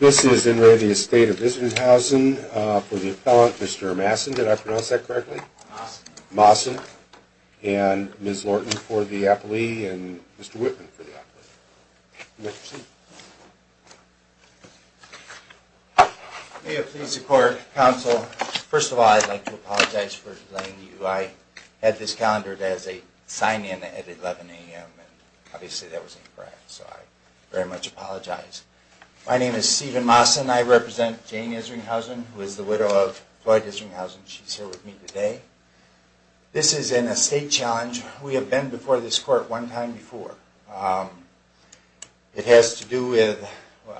This is the estate of Isringhausen for the appellant, Mr. Massen, did I pronounce that correctly? Massen. And Ms. Lorton for the appellee and Mr. Whitman for the appellee. May it please the court, counsel, first of all I'd like to apologize for delaying you. I had this calendared as a sign in at 11 a.m. and obviously that wasn't correct, so I very much apologize. My name is Stephen Massen. I represent Jane Isringhausen, who is the widow of Floyd Isringhausen. She's here with me today. This is an estate challenge. We have been before this court one time before. It has to do with,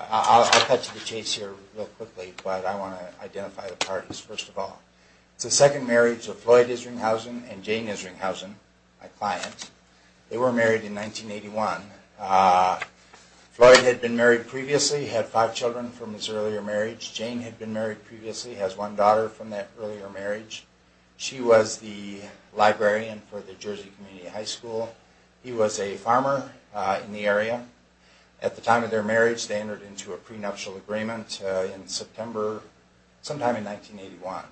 I'll cut to the chase here real quickly, but I want to identify the parties first of all. It's the second marriage of Floyd Isringhausen and Jane Isringhausen, my client. They were married in 1981. Floyd had been married previously, had five children from his earlier marriage. Jane had been married previously, has one daughter from that earlier marriage. She was the librarian for the Jersey Community High School. He was a farmer in the area. At the time of their marriage they entered into a prenuptial agreement in September, sometime in 1981.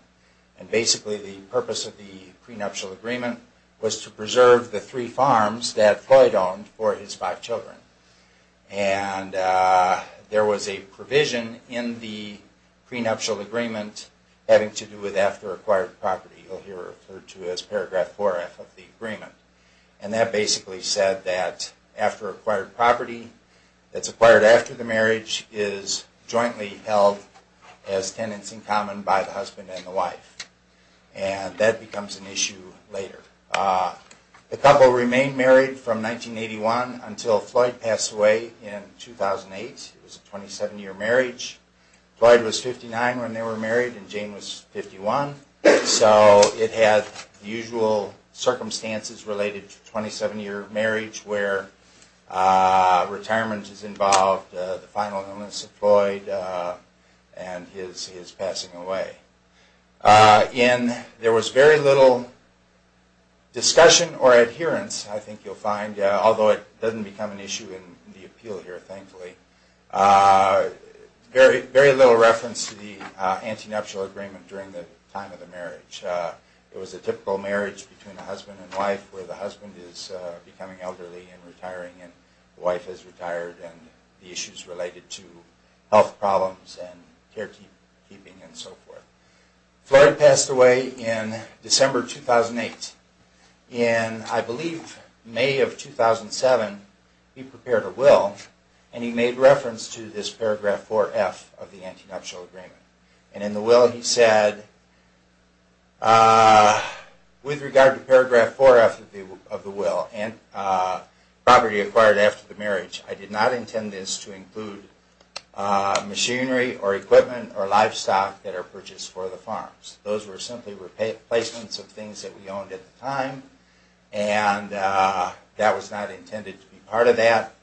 Basically the purpose of the prenuptial agreement was to preserve the three farms that Floyd owned for his five children. There was a provision in the prenuptial agreement having to do with after acquired property. You'll hear it referred to as paragraph 4F of the agreement. And that basically said that after acquired property that's acquired after the marriage is jointly held as tenants in common by the husband and the wife. And that becomes an issue later. The couple remained married from 1981 until Floyd passed away in 2008. It was a 27-year marriage. Floyd was 59 when they were married and Jane was 51. So it had the usual circumstances related to 27-year marriage where retirement is involved, the final illness of Floyd, and his passing away. And there was very little discussion or adherence, I think you'll find, although it doesn't become an issue in the appeal here, thankfully. Very little reference to the anti-nuptial agreement during the time of the marriage. It was a typical marriage between a husband and wife where the husband is becoming elderly and retiring and the wife is retired and the issues related to health problems and care keeping and so forth. Floyd passed away in December 2008. In, I believe, May of 2007, he prepared a will and he made reference to this paragraph 4F of the anti-nuptial agreement. And in the will he said, with regard to paragraph 4F of the will and property acquired after the marriage, I did not intend this to include machinery or equipment or livestock that are purchased for the farms. Those were simply replacements of things that we owned at the time and that was not intended to be part of that.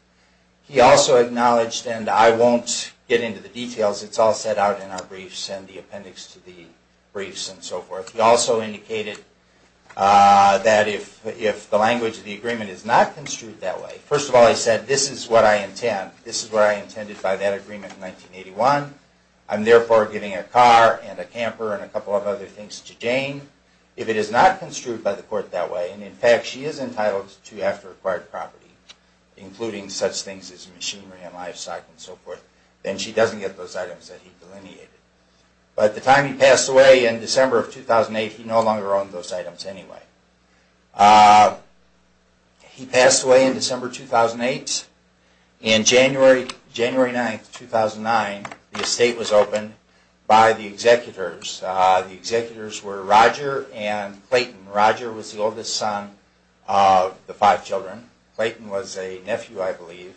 He also acknowledged, and I won't get into the details, it's all set out in our briefs and the appendix to the briefs and so forth. He also indicated that if the language of the agreement is not construed that way, first of all he said, this is what I intend. This is what I intended by that agreement in 1981. I'm therefore giving a car and a camper and a couple of other things to Jane. If it is not construed by the court that way, and in fact she is entitled to, after acquired property, including such things as machinery and livestock and so forth, then she doesn't get those items that he delineated. But at the time he passed away in December of 2008, he no longer owned those items anyway. He passed away in December 2008. On January 9, 2009, the estate was opened by the executors. The executors were Roger and Clayton. Roger was the oldest son of the five children. Clayton was a nephew, I believe.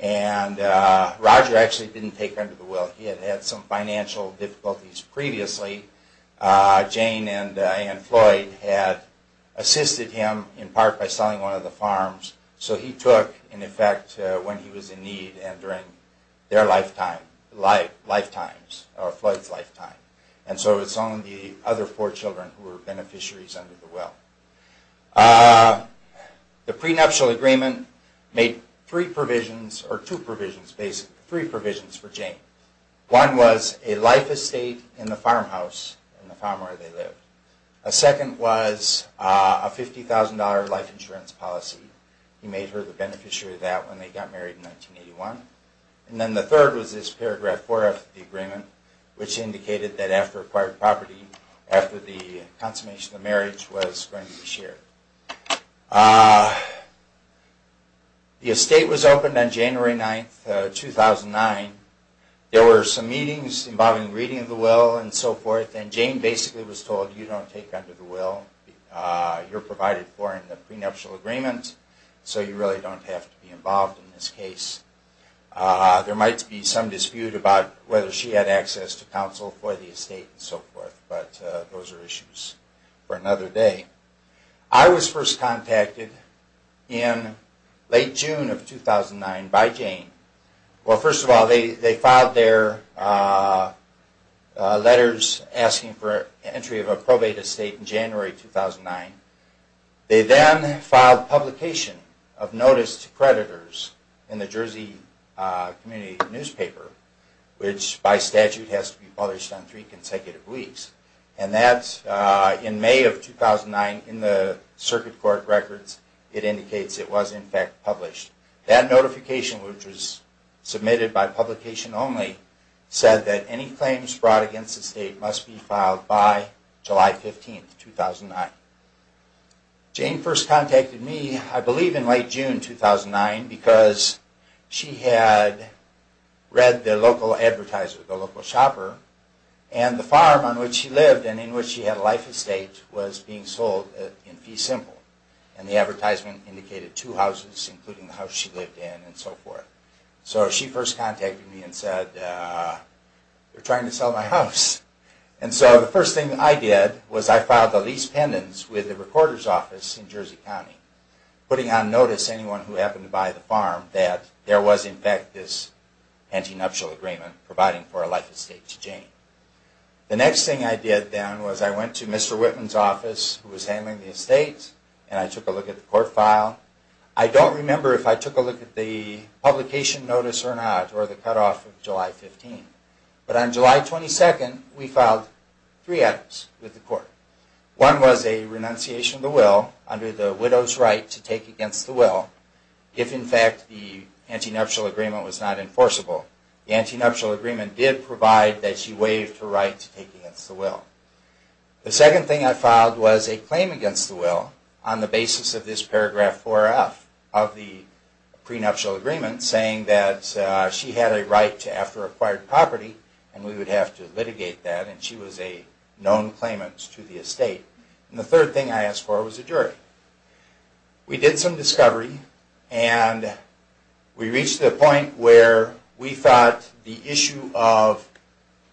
And Roger actually didn't take under the will. He had had some financial difficulties previously. Jane and Floyd had assisted him in part by selling one of the farms. So he took, in effect, when he was in need and during their lifetime, Floyd's lifetime. And so it's only the other four children who were beneficiaries under the will. The prenuptial agreement made three provisions, or two provisions basically, three provisions for Jane. One was a life estate in the farmhouse, in the farm where they lived. A second was a $50,000 life insurance policy. He made her the beneficiary of that when they got married in 1981. And then the third was this paragraph 4 of the agreement, which indicated that after acquired property, after the consummation of marriage, was going to be shared. The estate was opened on January 9, 2009. There were some meetings involving reading of the will and so forth, and Jane basically was told, you don't take under the will. You're provided for in the prenuptial agreement, so you really don't have to be involved in this case. There might be some dispute about whether she had access to counsel for the estate and so forth, but those are issues for another day. I was first contacted in late June of 2009 by Jane. Well, first of all, they filed their letters asking for entry of a probate estate in January 2009. They then filed publication of notice to creditors in the Jersey community newspaper, which by statute has to be published on three consecutive weeks. And that's in May of 2009 in the circuit court records. It indicates it was in fact published. That notification, which was submitted by publication only, said that any claims brought against the estate must be filed by July 15, 2009. Jane first contacted me, I believe in late June 2009, because she had read the local advertiser, the local shopper, and the farm on which she lived and in which she had a life estate was being sold in fee simple. And the advertisement indicated two houses, including the house she lived in and so forth. So she first contacted me and said, they're trying to sell my house. And so the first thing I did was I filed the lease pendants with the recorder's office in Jersey County, putting on notice anyone who happened to buy the farm that there was in fact this anti-nuptial agreement providing for a life estate to Jane. The next thing I did then was I went to Mr. Whitman's office, who was handling the estate, and I took a look at the court file. I don't remember if I took a look at the publication notice or not, or the cutoff of July 15. But on July 22, we filed three items with the court. One was a renunciation of the will under the widow's right to take against the will if in fact the anti-nuptial agreement was not enforceable. The anti-nuptial agreement did provide that she waived her right to take against the will. The second thing I filed was a claim against the will on the basis of this paragraph 4F of the pre-nuptial agreement saying that she had a right to after acquired property and we would have to litigate that and she was a known claimant to the estate. And the third thing I asked for was a jury. We did some discovery and we reached the point where we thought the issue of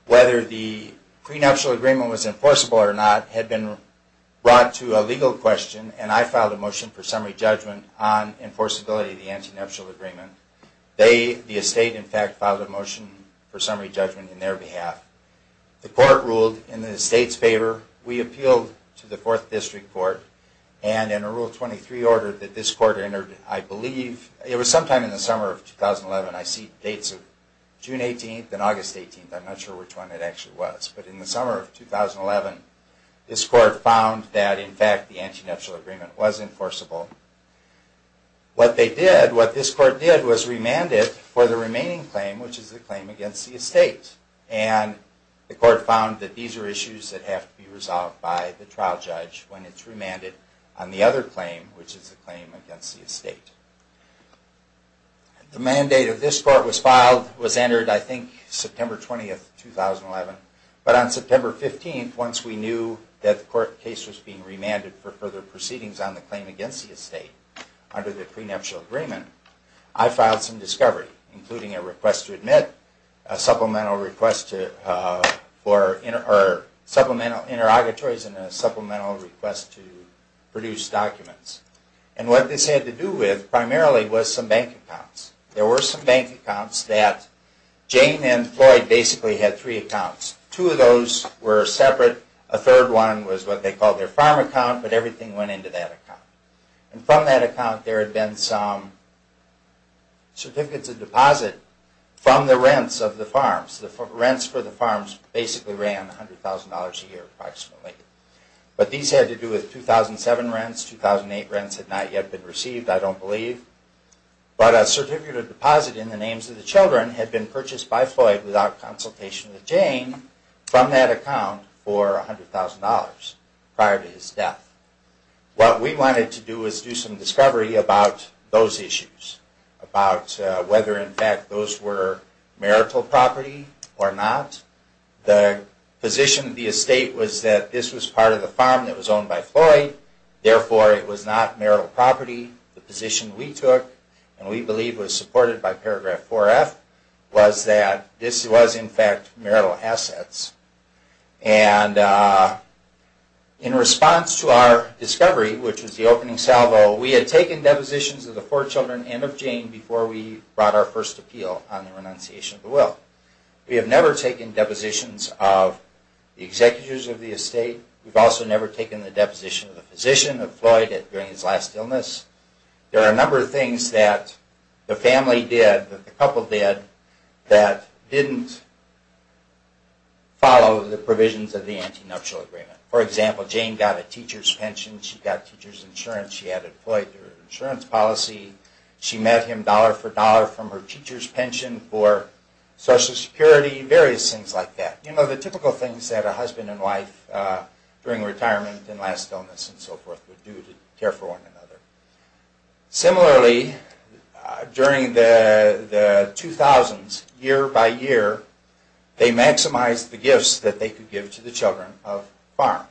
whether the pre-nuptial agreement was enforceable or not had been brought to a legal question and I filed a motion for summary judgment on enforceability of the anti-nuptial agreement. The estate in fact filed a motion for summary judgment on their behalf. The court ruled in the estate's favor. We appealed to the 4th District Court and in a Rule 23 order that this court entered, I believe, it was sometime in the summer of 2011, I see dates of June 18 and August 18, I'm not sure which one it actually was, but in the summer of 2011, this court found that in fact the anti-nuptial agreement was enforceable. What they did, what this court did, was remanded for the remaining claim, which is the claim against the estate. And the court found that these are issues that have to be resolved by the trial judge when it's remanded on the other claim, which is the claim against the estate. The mandate of this court was filed, was entered, I think, September 20, 2011. But on September 15, once we knew that the court case was being remanded for further proceedings on the claim against the estate under the pre-nuptial agreement, I filed some discovery, including a request to admit, a supplemental request for interrogatories, and a supplemental request to produce documents. And what this had to do with, primarily, was some bank accounts. There were some bank accounts that Jane and Floyd basically had three accounts. Two of those were separate, a third one was what they called their farm account, but everything went into that account. And from that account there had been some certificates of deposit from the rents of the farms. The rents for the farms basically ran $100,000 a year, approximately. But these had to do with 2007 rents, 2008 rents had not yet been received, I don't believe. But a certificate of deposit in the names of the children had been purchased by Floyd without consultation with Jane from that account for $100,000 prior to his death. What we wanted to do was do some discovery about those issues, about whether, in fact, those were marital property or not. The position of the estate was that this was part of the farm that was owned by Floyd, therefore it was not marital property. The position we took, and we believe was supported by paragraph 4F, was that this was, in fact, marital assets. And in response to our discovery, which was the opening salvo, we had taken depositions of the four children and of Jane before we brought our first appeal on the renunciation of the will. We have never taken depositions of the executors of the estate. We've also never taken the deposition of the physician of Floyd during his last illness. There are a number of things that the family did, that the couple did, that didn't follow the provisions of the Anti-Nuptial Agreement. For example, Jane got a teacher's pension, she got teacher's insurance, she had a Floyd insurance policy, she met him dollar for dollar from her teacher's pension for Social Security, various things like that. You know, the typical things that a husband and wife during retirement and last illness and so forth would do to care for one another. Similarly, during the 2000s, year by year, they maximized the gifts that they could give to the children of farm.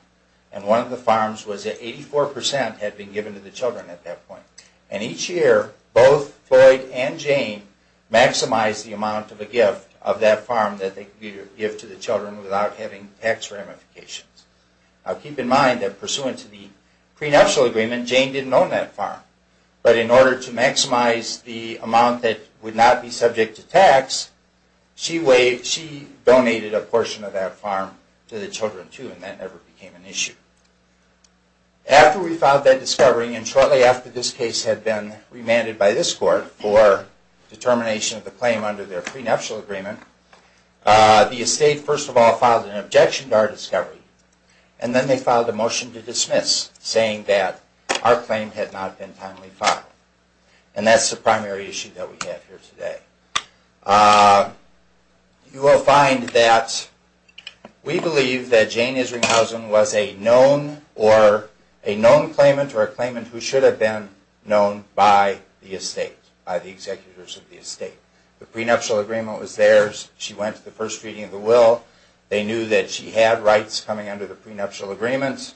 And one of the farms was that 84% had been given to the children at that point. And each year, both Floyd and Jane maximized the amount of a gift of that farm that they could give to the children without having tax ramifications. Now keep in mind that pursuant to the prenuptial agreement, Jane didn't own that farm. But in order to maximize the amount that would not be subject to tax, she donated a portion of that farm to the children too, and that never became an issue. After we filed that discovery, and shortly after this case had been remanded by this court for determination of the claim under their prenuptial agreement, the estate first of all filed an objection to our discovery. And then they filed a motion to dismiss, saying that our claim had not been timely filed. And that's the primary issue that we have here today. You will find that we believe that Jane Isringhausen was a known claimant or a claimant who should have been known by the estate, by the executors of the estate. The prenuptial agreement was theirs. She went to the first reading of the will. They knew that she had rights coming under the prenuptial agreements.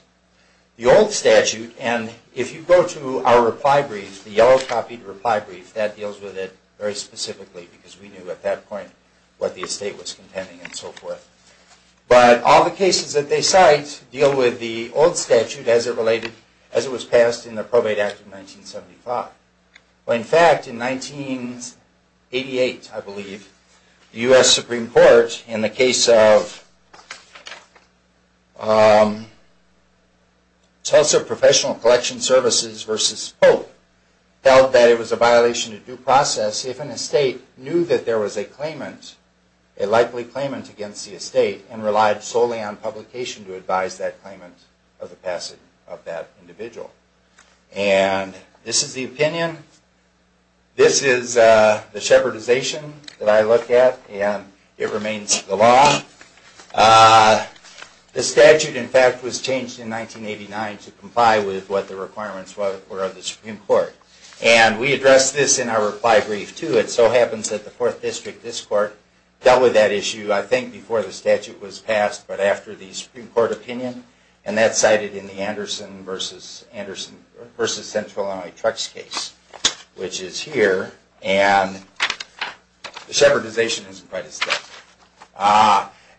The old statute, and if you go to our reply brief, the yellow-copied reply brief, that deals with it very specifically because we knew at that point what the estate was contending and so forth. But all the cases that they cite deal with the old statute as it was passed in the Probate Act of 1975. In fact, in 1988, I believe, the U.S. Supreme Court, in the case of Tulsa Professional Collection Services v. Pope, held that it was a violation of due process if an estate knew that there was a claimant, a likely claimant against the estate, and relied solely on publication to advise that claimant of the passing of that individual. And this is the opinion. This is the shepherdization that I look at, and it remains the law. The statute, in fact, was changed in 1989 to comply with what the requirements were of the Supreme Court. And we addressed this in our reply brief, too. It so happens that the Fourth District, this Court, dealt with that issue, I think, before the statute was passed, but after the Supreme Court opinion, and that's cited in the Anderson v. Central Illinois Trucks case, which is here. And the shepherdization isn't quite as thick.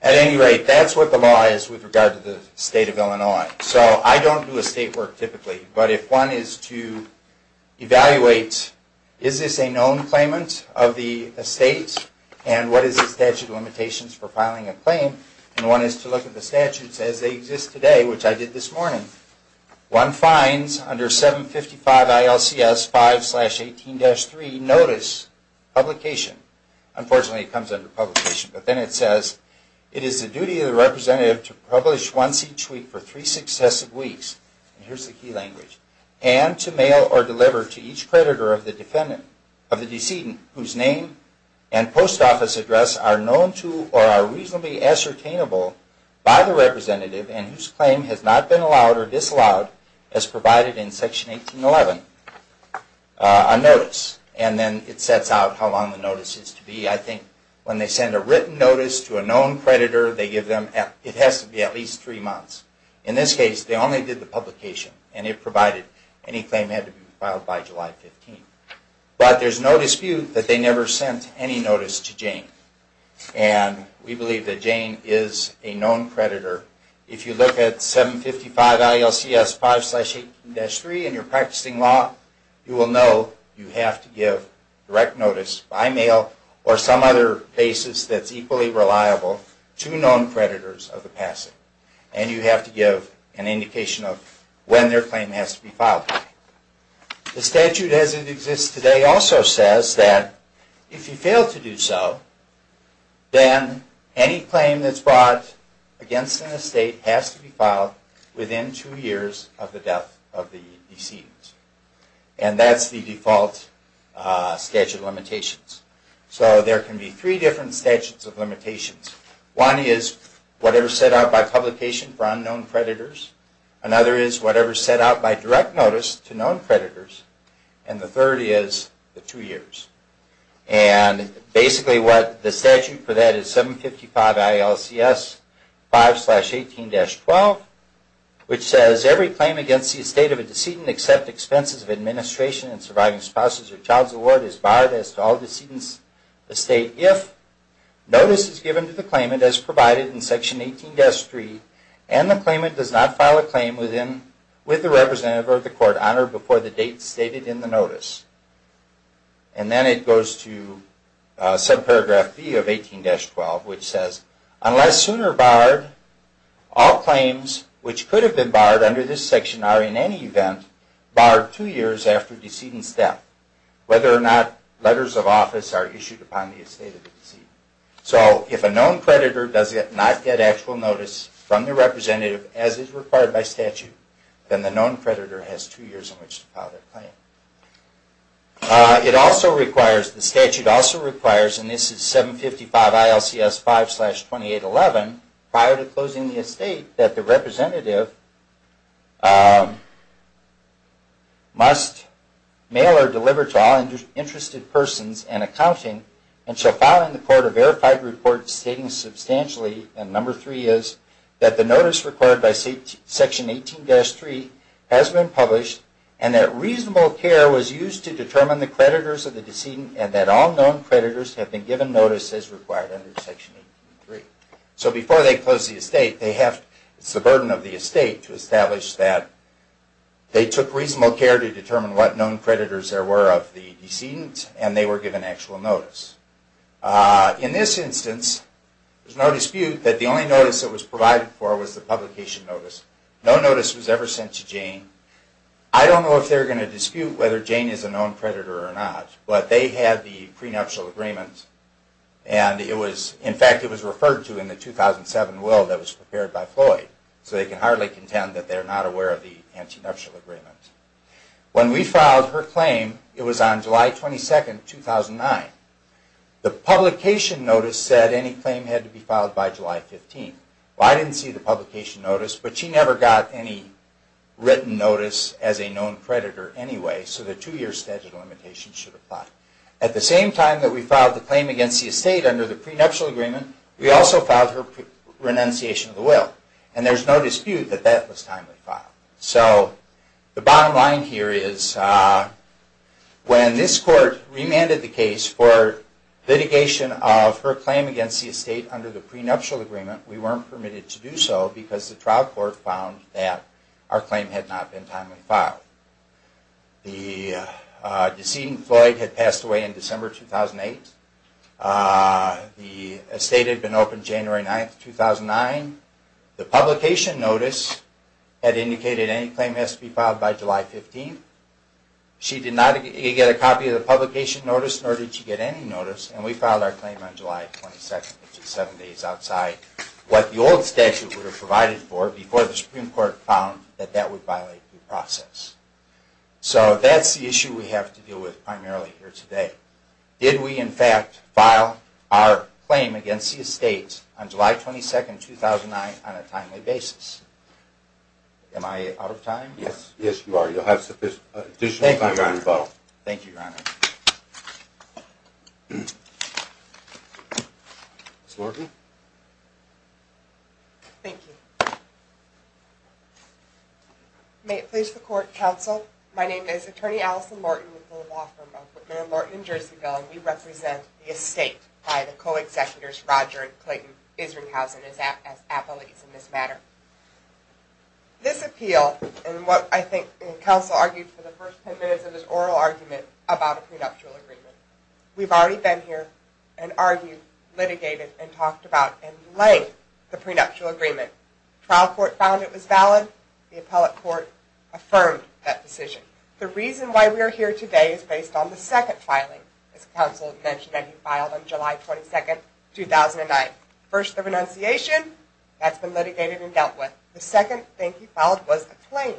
At any rate, that's what the law is with regard to the State of Illinois. So I don't do estate work, typically, but if one is to evaluate, is this a known claimant of the estate, and what is the statute of limitations for filing a claim, and one is to look at the statutes as they exist today, which I did this morning, one finds under 755 ILCS 5-18-3, notice that there is no claimant. There is publication. Unfortunately, it comes under publication, but then it says, it is the duty of the representative to publish once each week for three successive weeks, and here's the key language, and to mail or deliver to each creditor of the defendant, of the decedent, whose name and post office address are known to or are reasonably ascertainable by the representative and whose claim has not been allowed or disallowed as provided in Section 1811, a notice. It sets out how long the notice is to be. I think when they send a written notice to a known creditor, they give them, it has to be at least three months. In this case, they only did the publication, and it provided any claim had to be filed by July 15. But there's no dispute that they never sent any notice to Jane, and we believe that Jane is a known creditor. If you look at 755 ILCS 5-18-3 and you're practicing law, you will know you have to give direct notice by mail or some other basis that's equally reliable to known creditors of the passive, and you have to give an indication of when their claim has to be filed. The statute as it exists today also says that if you fail to do so, then any claim that's brought against an estate has to be filed within two years of the death of the decedent, and that's the default statute of limitations. So there can be three different statutes of limitations. One is whatever's set out by publication for unknown creditors. Another is whatever's set out by direct notice to known creditors. And the third is the two years. And basically what the statute for that is 755 ILCS 5-18-12, which says every claim against the estate of a decedent except expenses of administration and surviving spouses or child's award is barred as to all decedents of the estate if notice is given to the claimant as provided in Section 18-3 and the claimant does not file a claim with the representative or the court honored before the date stated in the notice. And then it goes to subparagraph B of 18-12, which says unless sooner barred, all claims which could have been barred under this section are in any event barred two years after decedent's death, whether or not letters of office are issued upon the estate of the decedent. So if a known creditor does not get actual notice from the representative as is required by statute, then the known creditor has two years in which to file their claim. It also requires, the statute also requires, and this is 755 ILCS 5-28-11, prior to closing the estate, that the representative must mail or deliver to all interested persons and accounting and shall file in the court a verified report stating substantially, and number three is, that the notice required by Section 18-3 has been published and that reasonable claimants have not been barred. Reasonable care was used to determine the creditors of the decedent and that all known creditors have been given notice as required under Section 18-3. So before they close the estate, they have, it's the burden of the estate to establish that they took reasonable care to determine what known creditors there were of the decedent and they were given actual notice. In this instance, there's no dispute that the only notice that was provided for was the publication notice. No notice was ever sent to Jane. I don't know if they're going to dispute whether Jane is a known creditor or not, but they had the prenuptial agreement and it was, in fact, it was referred to in the 2007 will that was prepared by Floyd. So they can hardly contend that they're not aware of the prenuptial agreement. When we filed her claim, it was on July 22, 2009. The publication notice said any claim had to be filed by July 15. Well, I didn't see the publication notice, but she never got any written notice as a known creditor anyway, so the two-year statute of limitations should apply. At the same time that we filed the claim against the estate under the prenuptial agreement, we also filed her renunciation of the will. And there's no dispute that that was timely file. So the bottom line here is when this court remanded the case for litigation of her claim against the estate under the prenuptial agreement, we weren't permitted to do so because the trial court found that our claim had not been timely filed. The decedent, Floyd, had passed away in December 2008. The estate had been opened January 9, 2009. The publication notice had indicated any claim has to be filed by July 15. She did not get a copy of the publication notice, nor did she get any notice. And we filed our claim on July 22, which is seven days outside what the old statute would have provided for before the Supreme Court found that that would violate due process. So that's the issue we have to deal with primarily here today. Did we, in fact, file our claim against the estate on July 22, 2009 on a timely basis? Am I out of time? Yes, you are. You'll have additional time for rebuttal. Thank you, Your Honor. Ms. Lorton? Thank you. May it please the Court, Counsel. My name is Attorney Allison Lorton with the law firm of Whitman & Lorton in Jerseyville, and we represent the estate by the co-executives Roger and Clayton Isringhausen as appellees in this matter. This appeal, and what I think counsel argued for the first ten minutes of his oral argument about a prenuptial agreement, we've already been here and argued, litigated, and talked about and delayed the prenuptial agreement. The trial court found it was valid. The appellate court affirmed that decision. The reason why we are here today is based on the second filing, as counsel mentioned, that he filed on July 22, 2009. First, the renunciation. That's been litigated and dealt with. The second thing he filed was a claim,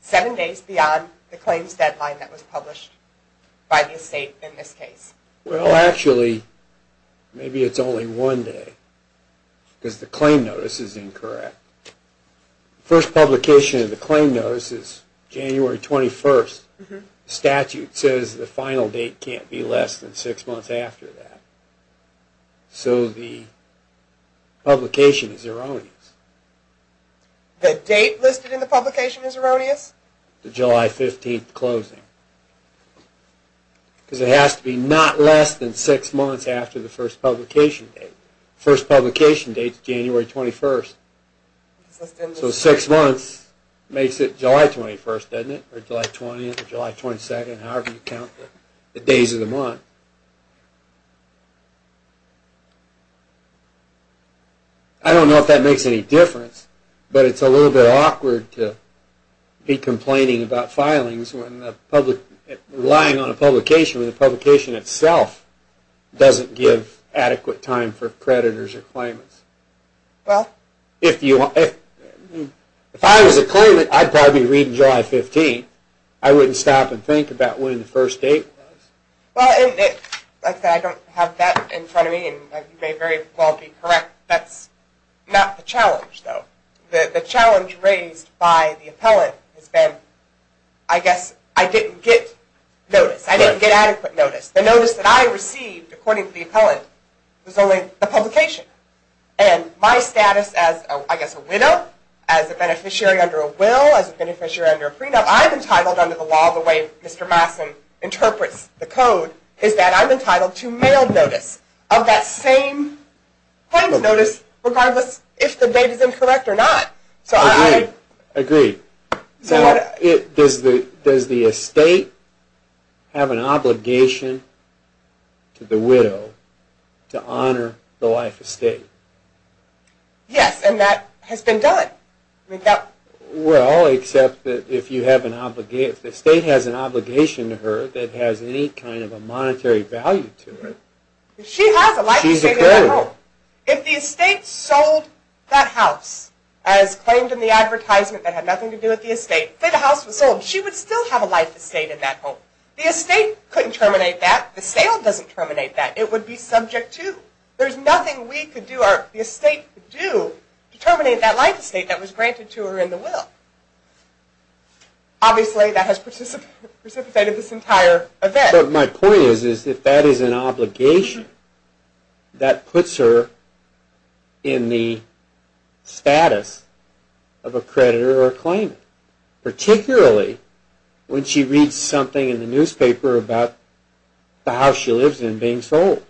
seven days beyond the claims deadline that was published by the estate in this case. Well, actually, maybe it's only one day, because the claim notice is incorrect. The first publication of the claim notice is January 21. The statute says the final date can't be less than six months after that. So the publication is erroneous. The date listed in the publication is erroneous? The July 15 closing. Because it has to be not less than six months after the first publication date. The first publication date is January 21. So six months makes it July 21, doesn't it? Or July 20, July 22, however you count the days of the month. I don't know if that makes any difference, but it's a little bit awkward to be complaining about filings when relying on a publication, when the publication itself doesn't give adequate time for creditors or claimants. If I was a claimant, I'd probably read July 15. I wouldn't stop and think about when the first date was. Well, like I said, I don't have that in front of me, and you may very well be correct. That's not the challenge, though. The challenge raised by the appellant has been, I guess, I didn't get notice. I didn't get adequate notice. The notice that I received, according to the appellant, was only the publication. And my status as, I guess, a widow, as a beneficiary under a will, as a beneficiary under a prenup, I'm entitled under the law the way Mr. Masson interprets the code, is that I'm entitled to mail notice of that same plaintiff's notice, regardless if the date is incorrect or not. Agreed. Agreed. Does the estate have an obligation to the widow to honor the life estate? Yes, and that has been done. Well, except that if the estate has an obligation to her that has any kind of a monetary value to it, she's a creditor. She has a life estate in that home. If the estate sold that house as claimed in the advertisement that had nothing to do with the estate, say the house was sold, she would still have a life estate in that home. The estate couldn't terminate that. The sale doesn't terminate that. It would be subject to. There's nothing we could do or the estate could do to terminate that life estate that was granted to her in the will. Obviously, that has precipitated this entire event. But my point is, if that is an obligation, that puts her in the status of a creditor or a claimant, particularly when she reads something in the newspaper about the house she lives in being sold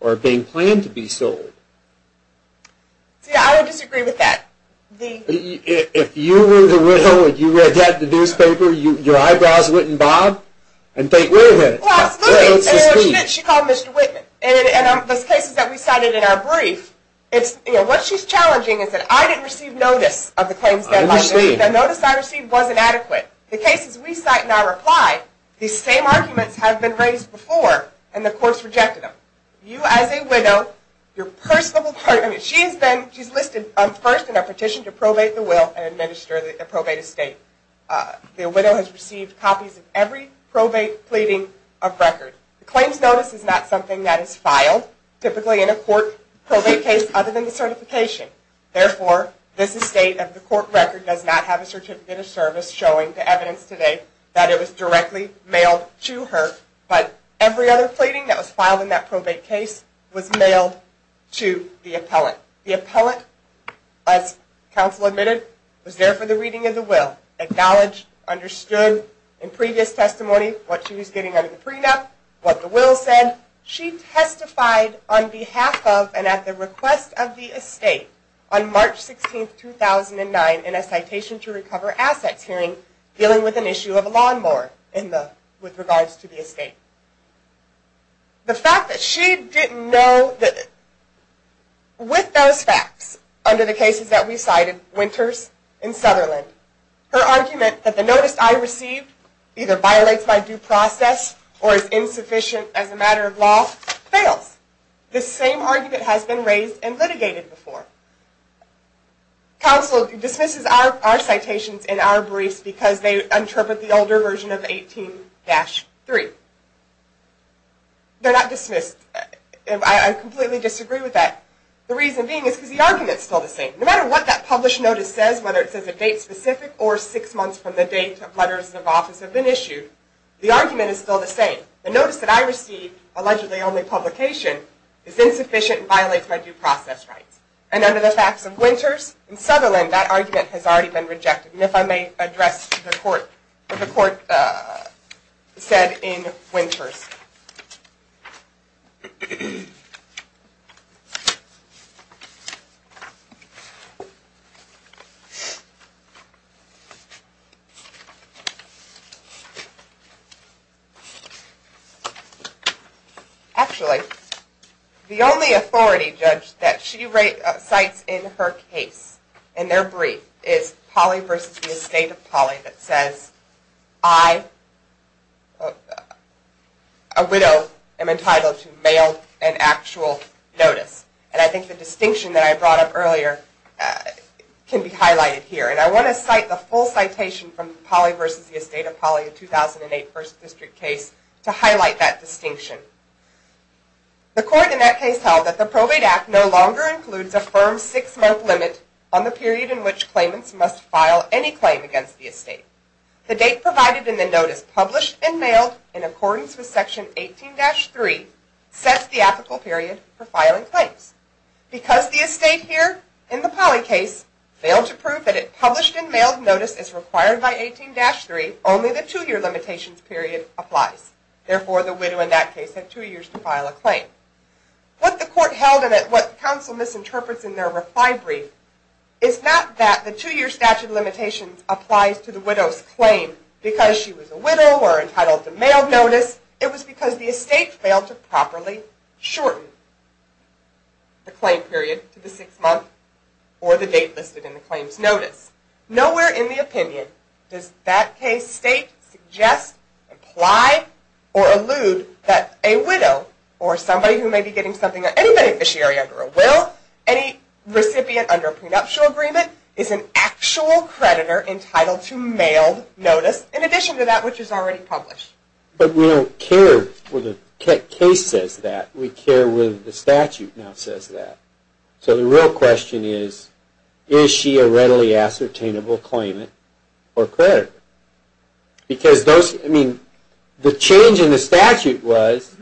or being planned to be sold. See, I would disagree with that. If you were the widow and you read that in the newspaper, your eyebrows wouldn't bob and they wouldn't. Well, absolutely. She called Mr. Whitman. In the cases that we cited in our brief, what she's challenging is that I didn't receive notice of the claims deadline. I understand. The notice I received wasn't adequate. The cases we cite in our reply, these same arguments have been raised before and the courts rejected them. You as a widow, your personable partner, she's listed first in our petition to probate the will and administer the probate estate. The widow has received copies of every probate pleading of record. The claims notice is not something that is filed, typically in a court probate case other than the certification. Therefore, this estate of the court record does not have a certificate of service showing the evidence today that it was directly mailed to her. But every other pleading that was filed in that probate case was mailed to the appellate. The appellate, as counsel admitted, was there for the reading of the will. Acknowledged, understood in previous testimony what she was getting under the prenup, what the will said. She testified on behalf of and at the request of the estate on March 16, 2009, in a citation to recover assets hearing dealing with an issue of a lawn mower in the, with regards to the estate. The fact that she didn't know that, with those facts, under the cases that we cited, Winters and Sutherland, her argument that the notice I received either violates my due process or is insufficient as a matter of law, fails. This same argument has been raised and litigated before. Counsel dismisses our citations and our briefs because they interpret the older version of 18-3. They're not dismissed. I completely disagree with that. The reason being is because the argument is still the same. No matter what that published notice says, whether it says a date specific or six months from the date letters of office have been issued, the argument is still the same. The notice that I received, allegedly only publication, is insufficient and violates my due process rights. And under the facts of Winters and Sutherland, that argument has already been rejected. And if I may address the court, what the court said in Winters. Actually, the only authority judge that she cites in her case, in their brief, is Polley v. The Estate of Polley that says, I, a widow, am entitled to mail and actual notice. And I think the distinction that I brought up earlier can be highlighted here. And I want to cite the full citation from Polley v. The Estate of Polley, a 2008 First District case, to highlight that distinction. The court in that case held that the probate act no longer includes a firm six-month limit on the period in which claimants must file any claim against the estate. The date provided in the notice, published and mailed in accordance with Section 18-3, sets the ethical period for filing claims. Because the estate here, in the Polley case, failed to prove that a published and mailed notice is required by 18-3, only the two-year limitations period applies. Therefore, the widow in that case had two years to file a claim. What the court held, and what counsel misinterprets in their reply brief, is not that the two-year statute of limitations applies to the widow's claim because she was a widow or entitled to mail notice. It was because the estate failed to properly shorten the claim period to the six-month or the date listed in the claims notice. Nowhere in the opinion does that case state, suggest, imply, or allude that a widow or somebody who may be getting something, any beneficiary under a will, any recipient under a prenuptial agreement, is an actual creditor entitled to mailed notice in addition to that which is already published. But we don't care whether the case says that. We care whether the statute now says that. So the real question is, is she a readily ascertainable claimant or creditor? Because the change in the statute was,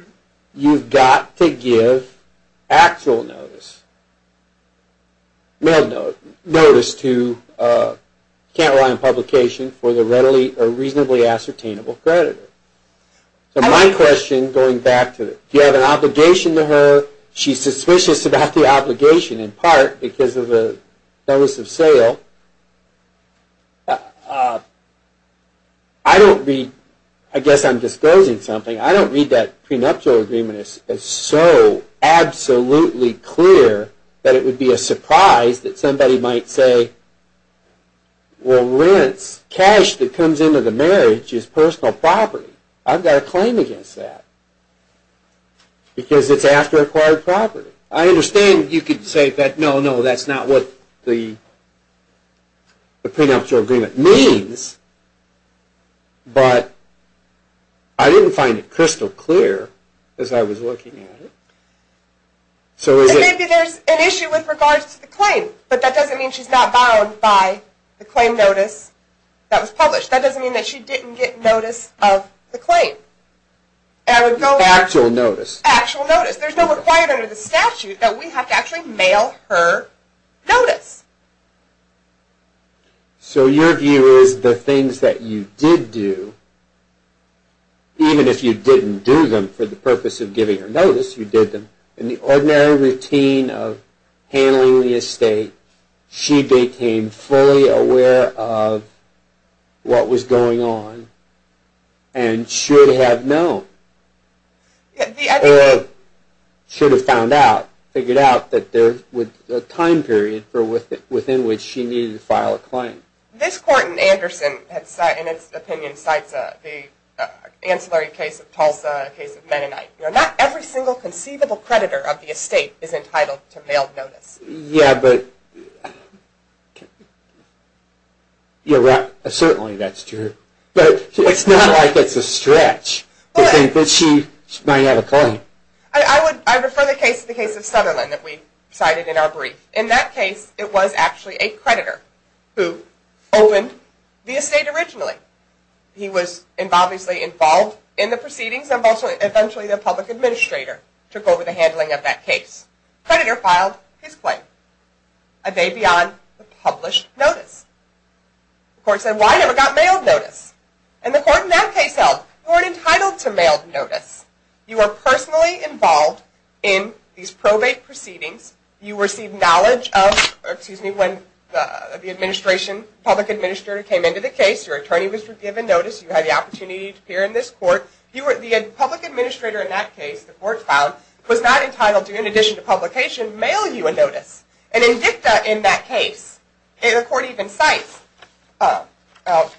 you've got to give actual notice, mailed notice to, you can't rely on publication for the readily or reasonably ascertainable creditor. So my question, going back to, do you have an obligation to her? She's suspicious about the obligation in part because of the notice of sale. I don't read, I guess I'm disclosing something, I don't read that prenuptial agreement as so absolutely clear that it would be a surprise that somebody might say, well, rents, cash that comes into the marriage is personal property. I've got a claim against that. Because it's after acquired property. I understand you could say, no, no, that's not what the prenuptial agreement means. But I didn't find it crystal clear as I was looking at it. Maybe there's an issue with regards to the claim, but that doesn't mean she's not bound by the claim notice that was published. That doesn't mean that she didn't get notice of the claim. Actual notice. Actual notice. There's no requirement under the statute that we have to actually mail her notice. So your view is the things that you did do, even if you didn't do them for the purpose of giving her notice, you did them, in the ordinary routine of handling the estate, she became fully aware of what was going on and should have known or should have found out, figured out that there was a time period within which she needed to file a claim. This court in Anderson, in its opinion, cites the ancillary case of Tulsa, the case of Mennonite. Not every single conceivable creditor of the estate is entitled to mail notice. Yeah, but certainly that's true. But it's not like it's a stretch to think that she might have a claim. I refer the case to the case of Sutherland that we cited in our brief. In that case, it was actually a creditor who opened the estate originally. He was obviously involved in the proceedings and eventually the public administrator took over the handling of that case. The creditor filed his claim. A day beyond the published notice. The court said, why never got mailed notice? And the court in that case held, you weren't entitled to mailed notice. You were personally involved in these probate proceedings. You received knowledge of, excuse me, when the public administrator came into the case. Your attorney was given notice. You had the opportunity to appear in this court. The public administrator in that case, the court found, was not entitled to, in addition to publication, mail you a notice. An indicta in that case. The court even cites, and I'll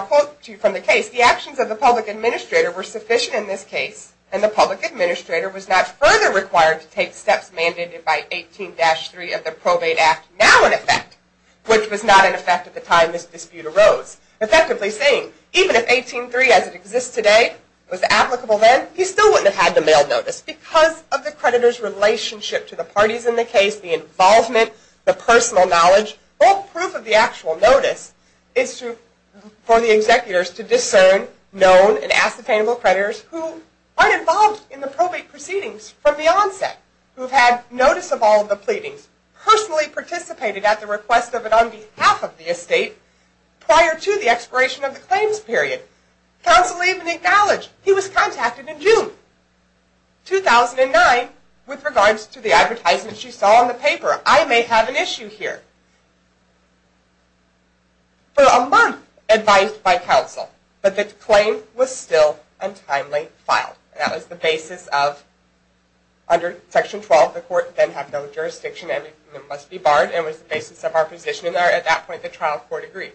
quote to you from the case, the actions of the public administrator were sufficient in this case, and the public administrator was not further required to take steps mandated by 18-3 of the Probate Act, now in effect, which was not in effect at the time this dispute arose. Effectively saying, even if 18-3 as it exists today was applicable then, he still wouldn't have had the mailed notice. Because of the creditor's relationship to the parties in the case, the involvement, the personal knowledge, bulk proof of the actual notice is for the executors to discern, know, and ask the payable creditors who aren't involved in the probate proceedings from the onset, who have had notice of all of the pleadings, personally participated at the request of and on behalf of the estate prior to the expiration of the claims period. Counsel even acknowledged he was contacted in June 2009 with regards to the advertisements you saw in the paper. I may have an issue here. For a month advised by counsel, but the claim was still untimely filed. That was the basis of, under section 12, the court then had no jurisdiction and it must be barred, and it was the basis of our position, and at that point the trial court agreed.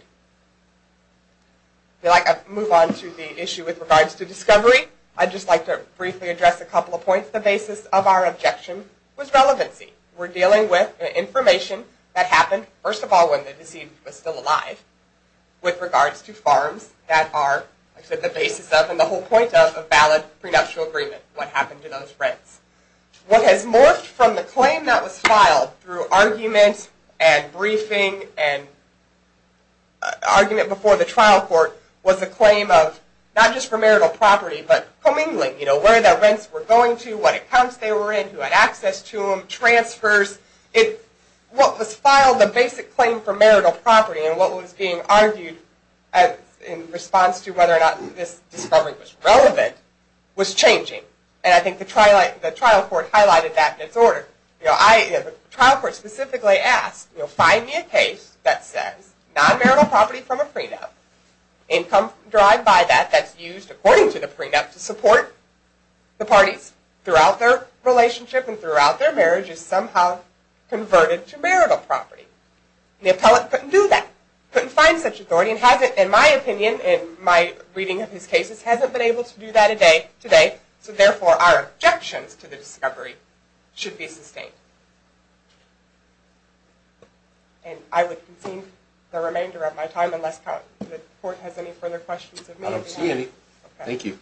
I'd like to move on to the issue with regards to discovery. I'd just like to briefly address a couple of points. The basis of our objection was relevancy. We're dealing with information that happened, first of all, when the deceased was still alive, with regards to farms that are the basis of and the whole point of a valid prenuptial agreement, what happened to those rents. What has morphed from the claim that was filed through arguments and briefing and argument before the trial court was the claim of, not just for marital property, but commingling, you know, where the rents were going to, what accounts they were in, who had access to them, transfers. What was filed, the basic claim for marital property, and what was being argued in response to whether or not this discovery was relevant, was changing, and I think the trial court highlighted that in its order. The trial court specifically asked, find me a case that says non-marital property from a prenup, income derived by that that's used according to the prenup to support the parties throughout their relationship and throughout their marriage is somehow converted to marital property. The appellate couldn't do that. Couldn't find such authority and hasn't, in my opinion, in my reading of his cases, hasn't been able to do that today, so therefore our objections to the discovery should be sustained. And I would concede the remainder of my time unless the court has any further questions of me. I don't see any. Thank you.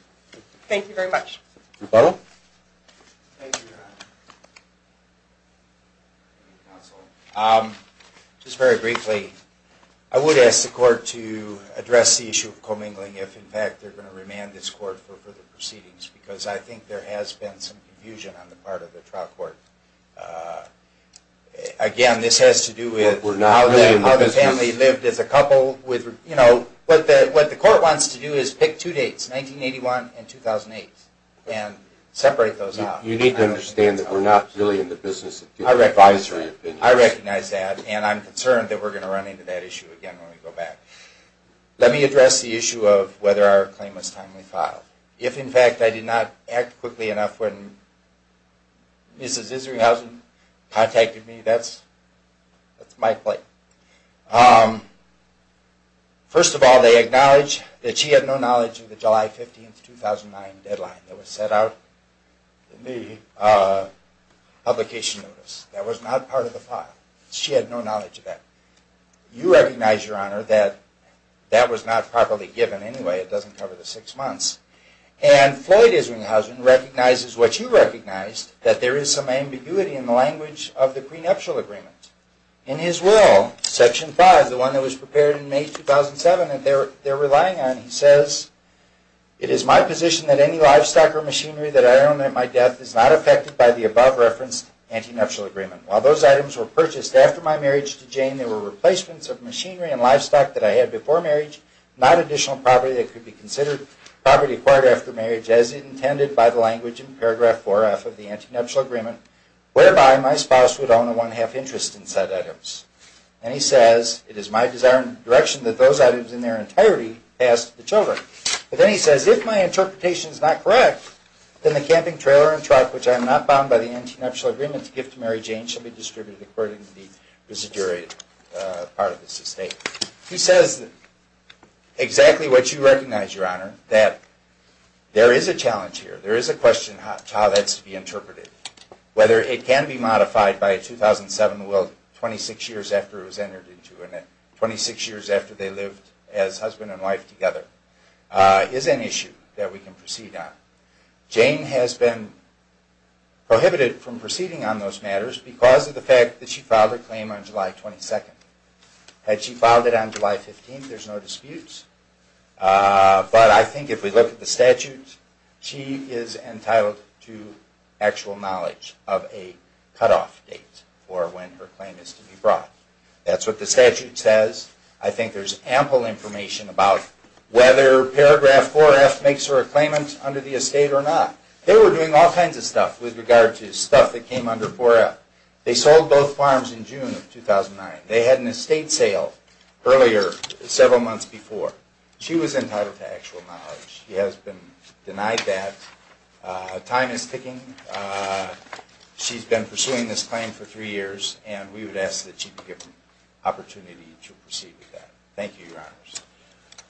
Thank you very much. Rebuttal? Thank you, Your Honor. Counsel, just very briefly, I would ask the court to address the issue of commingling if, in fact, they're going to remand this court for further proceedings because I think there has been some confusion on the part of the trial court. Again, this has to do with how the family lived as a couple with, you know, what the court wants to do is pick two dates, 1981 and 2008, and separate those out. You need to understand that we're not really in the business of giving advisory opinions. I recognize that, and I'm concerned that we're going to run into that issue again when we go back. Let me address the issue of whether our claim was timely filed. If, in fact, I did not act quickly enough when Mrs. Isringhausen contacted me, that's my claim. First of all, they acknowledge that she had no knowledge of the July 15, 2009 deadline that was set out in the publication notice. That was not part of the file. She had no knowledge of that. You recognize, Your Honor, that that was not properly given anyway. It doesn't cover the six months. And Floyd Isringhausen recognizes what you recognized, that there is some ambiguity in the language of the prenuptial agreement. In his will, Section 5, the one that was prepared in May 2007 that they're relying on, he says, It is my position that any livestock or machinery that I own at my death is not affected by the above-referenced antenuptial agreement. While those items were purchased after my marriage to Jane, they were replacements of machinery and livestock that I had before marriage, not additional property that could be considered property acquired after marriage, as intended by the language in paragraph 4F of the antenuptial agreement, whereby my spouse would own a one-half interest in said items. And he says, It is my desire and direction that those items in their entirety pass to the children. But then he says, If my interpretation is not correct, then the camping trailer and truck, which I am not bound by the antenuptial agreement to give to Mary Jane, shall be distributed according to the residuary part of this estate. He says exactly what you recognize, Your Honor, that there is a challenge here. There is a question as to how that's to be interpreted. Whether it can be modified by a 2007 will, 26 years after it was entered into, and 26 years after they lived as husband and wife together, is an issue that we can proceed on. Jane has been prohibited from proceeding on those matters because of the fact that she filed her claim on July 22nd. Had she filed it on July 15th, there's no disputes. But I think if we look at the statute, she is entitled to actual knowledge of a cutoff date for when her claim is to be brought. That's what the statute says. I think there's ample information about whether paragraph 4F makes her a claimant under the estate or not. They were doing all kinds of stuff with regard to stuff that came under 4F. They sold both farms in June of 2009. They had an estate sale earlier, several months before. She was entitled to actual knowledge. She has been denied that. Time is ticking. She's been pursuing this claim for three years, and we would ask that she be given the opportunity to proceed with that. Thank you, Your Honors.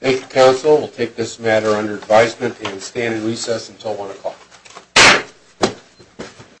Thank you, counsel. We'll take this matter under advisement and stand in recess until 1 o'clock.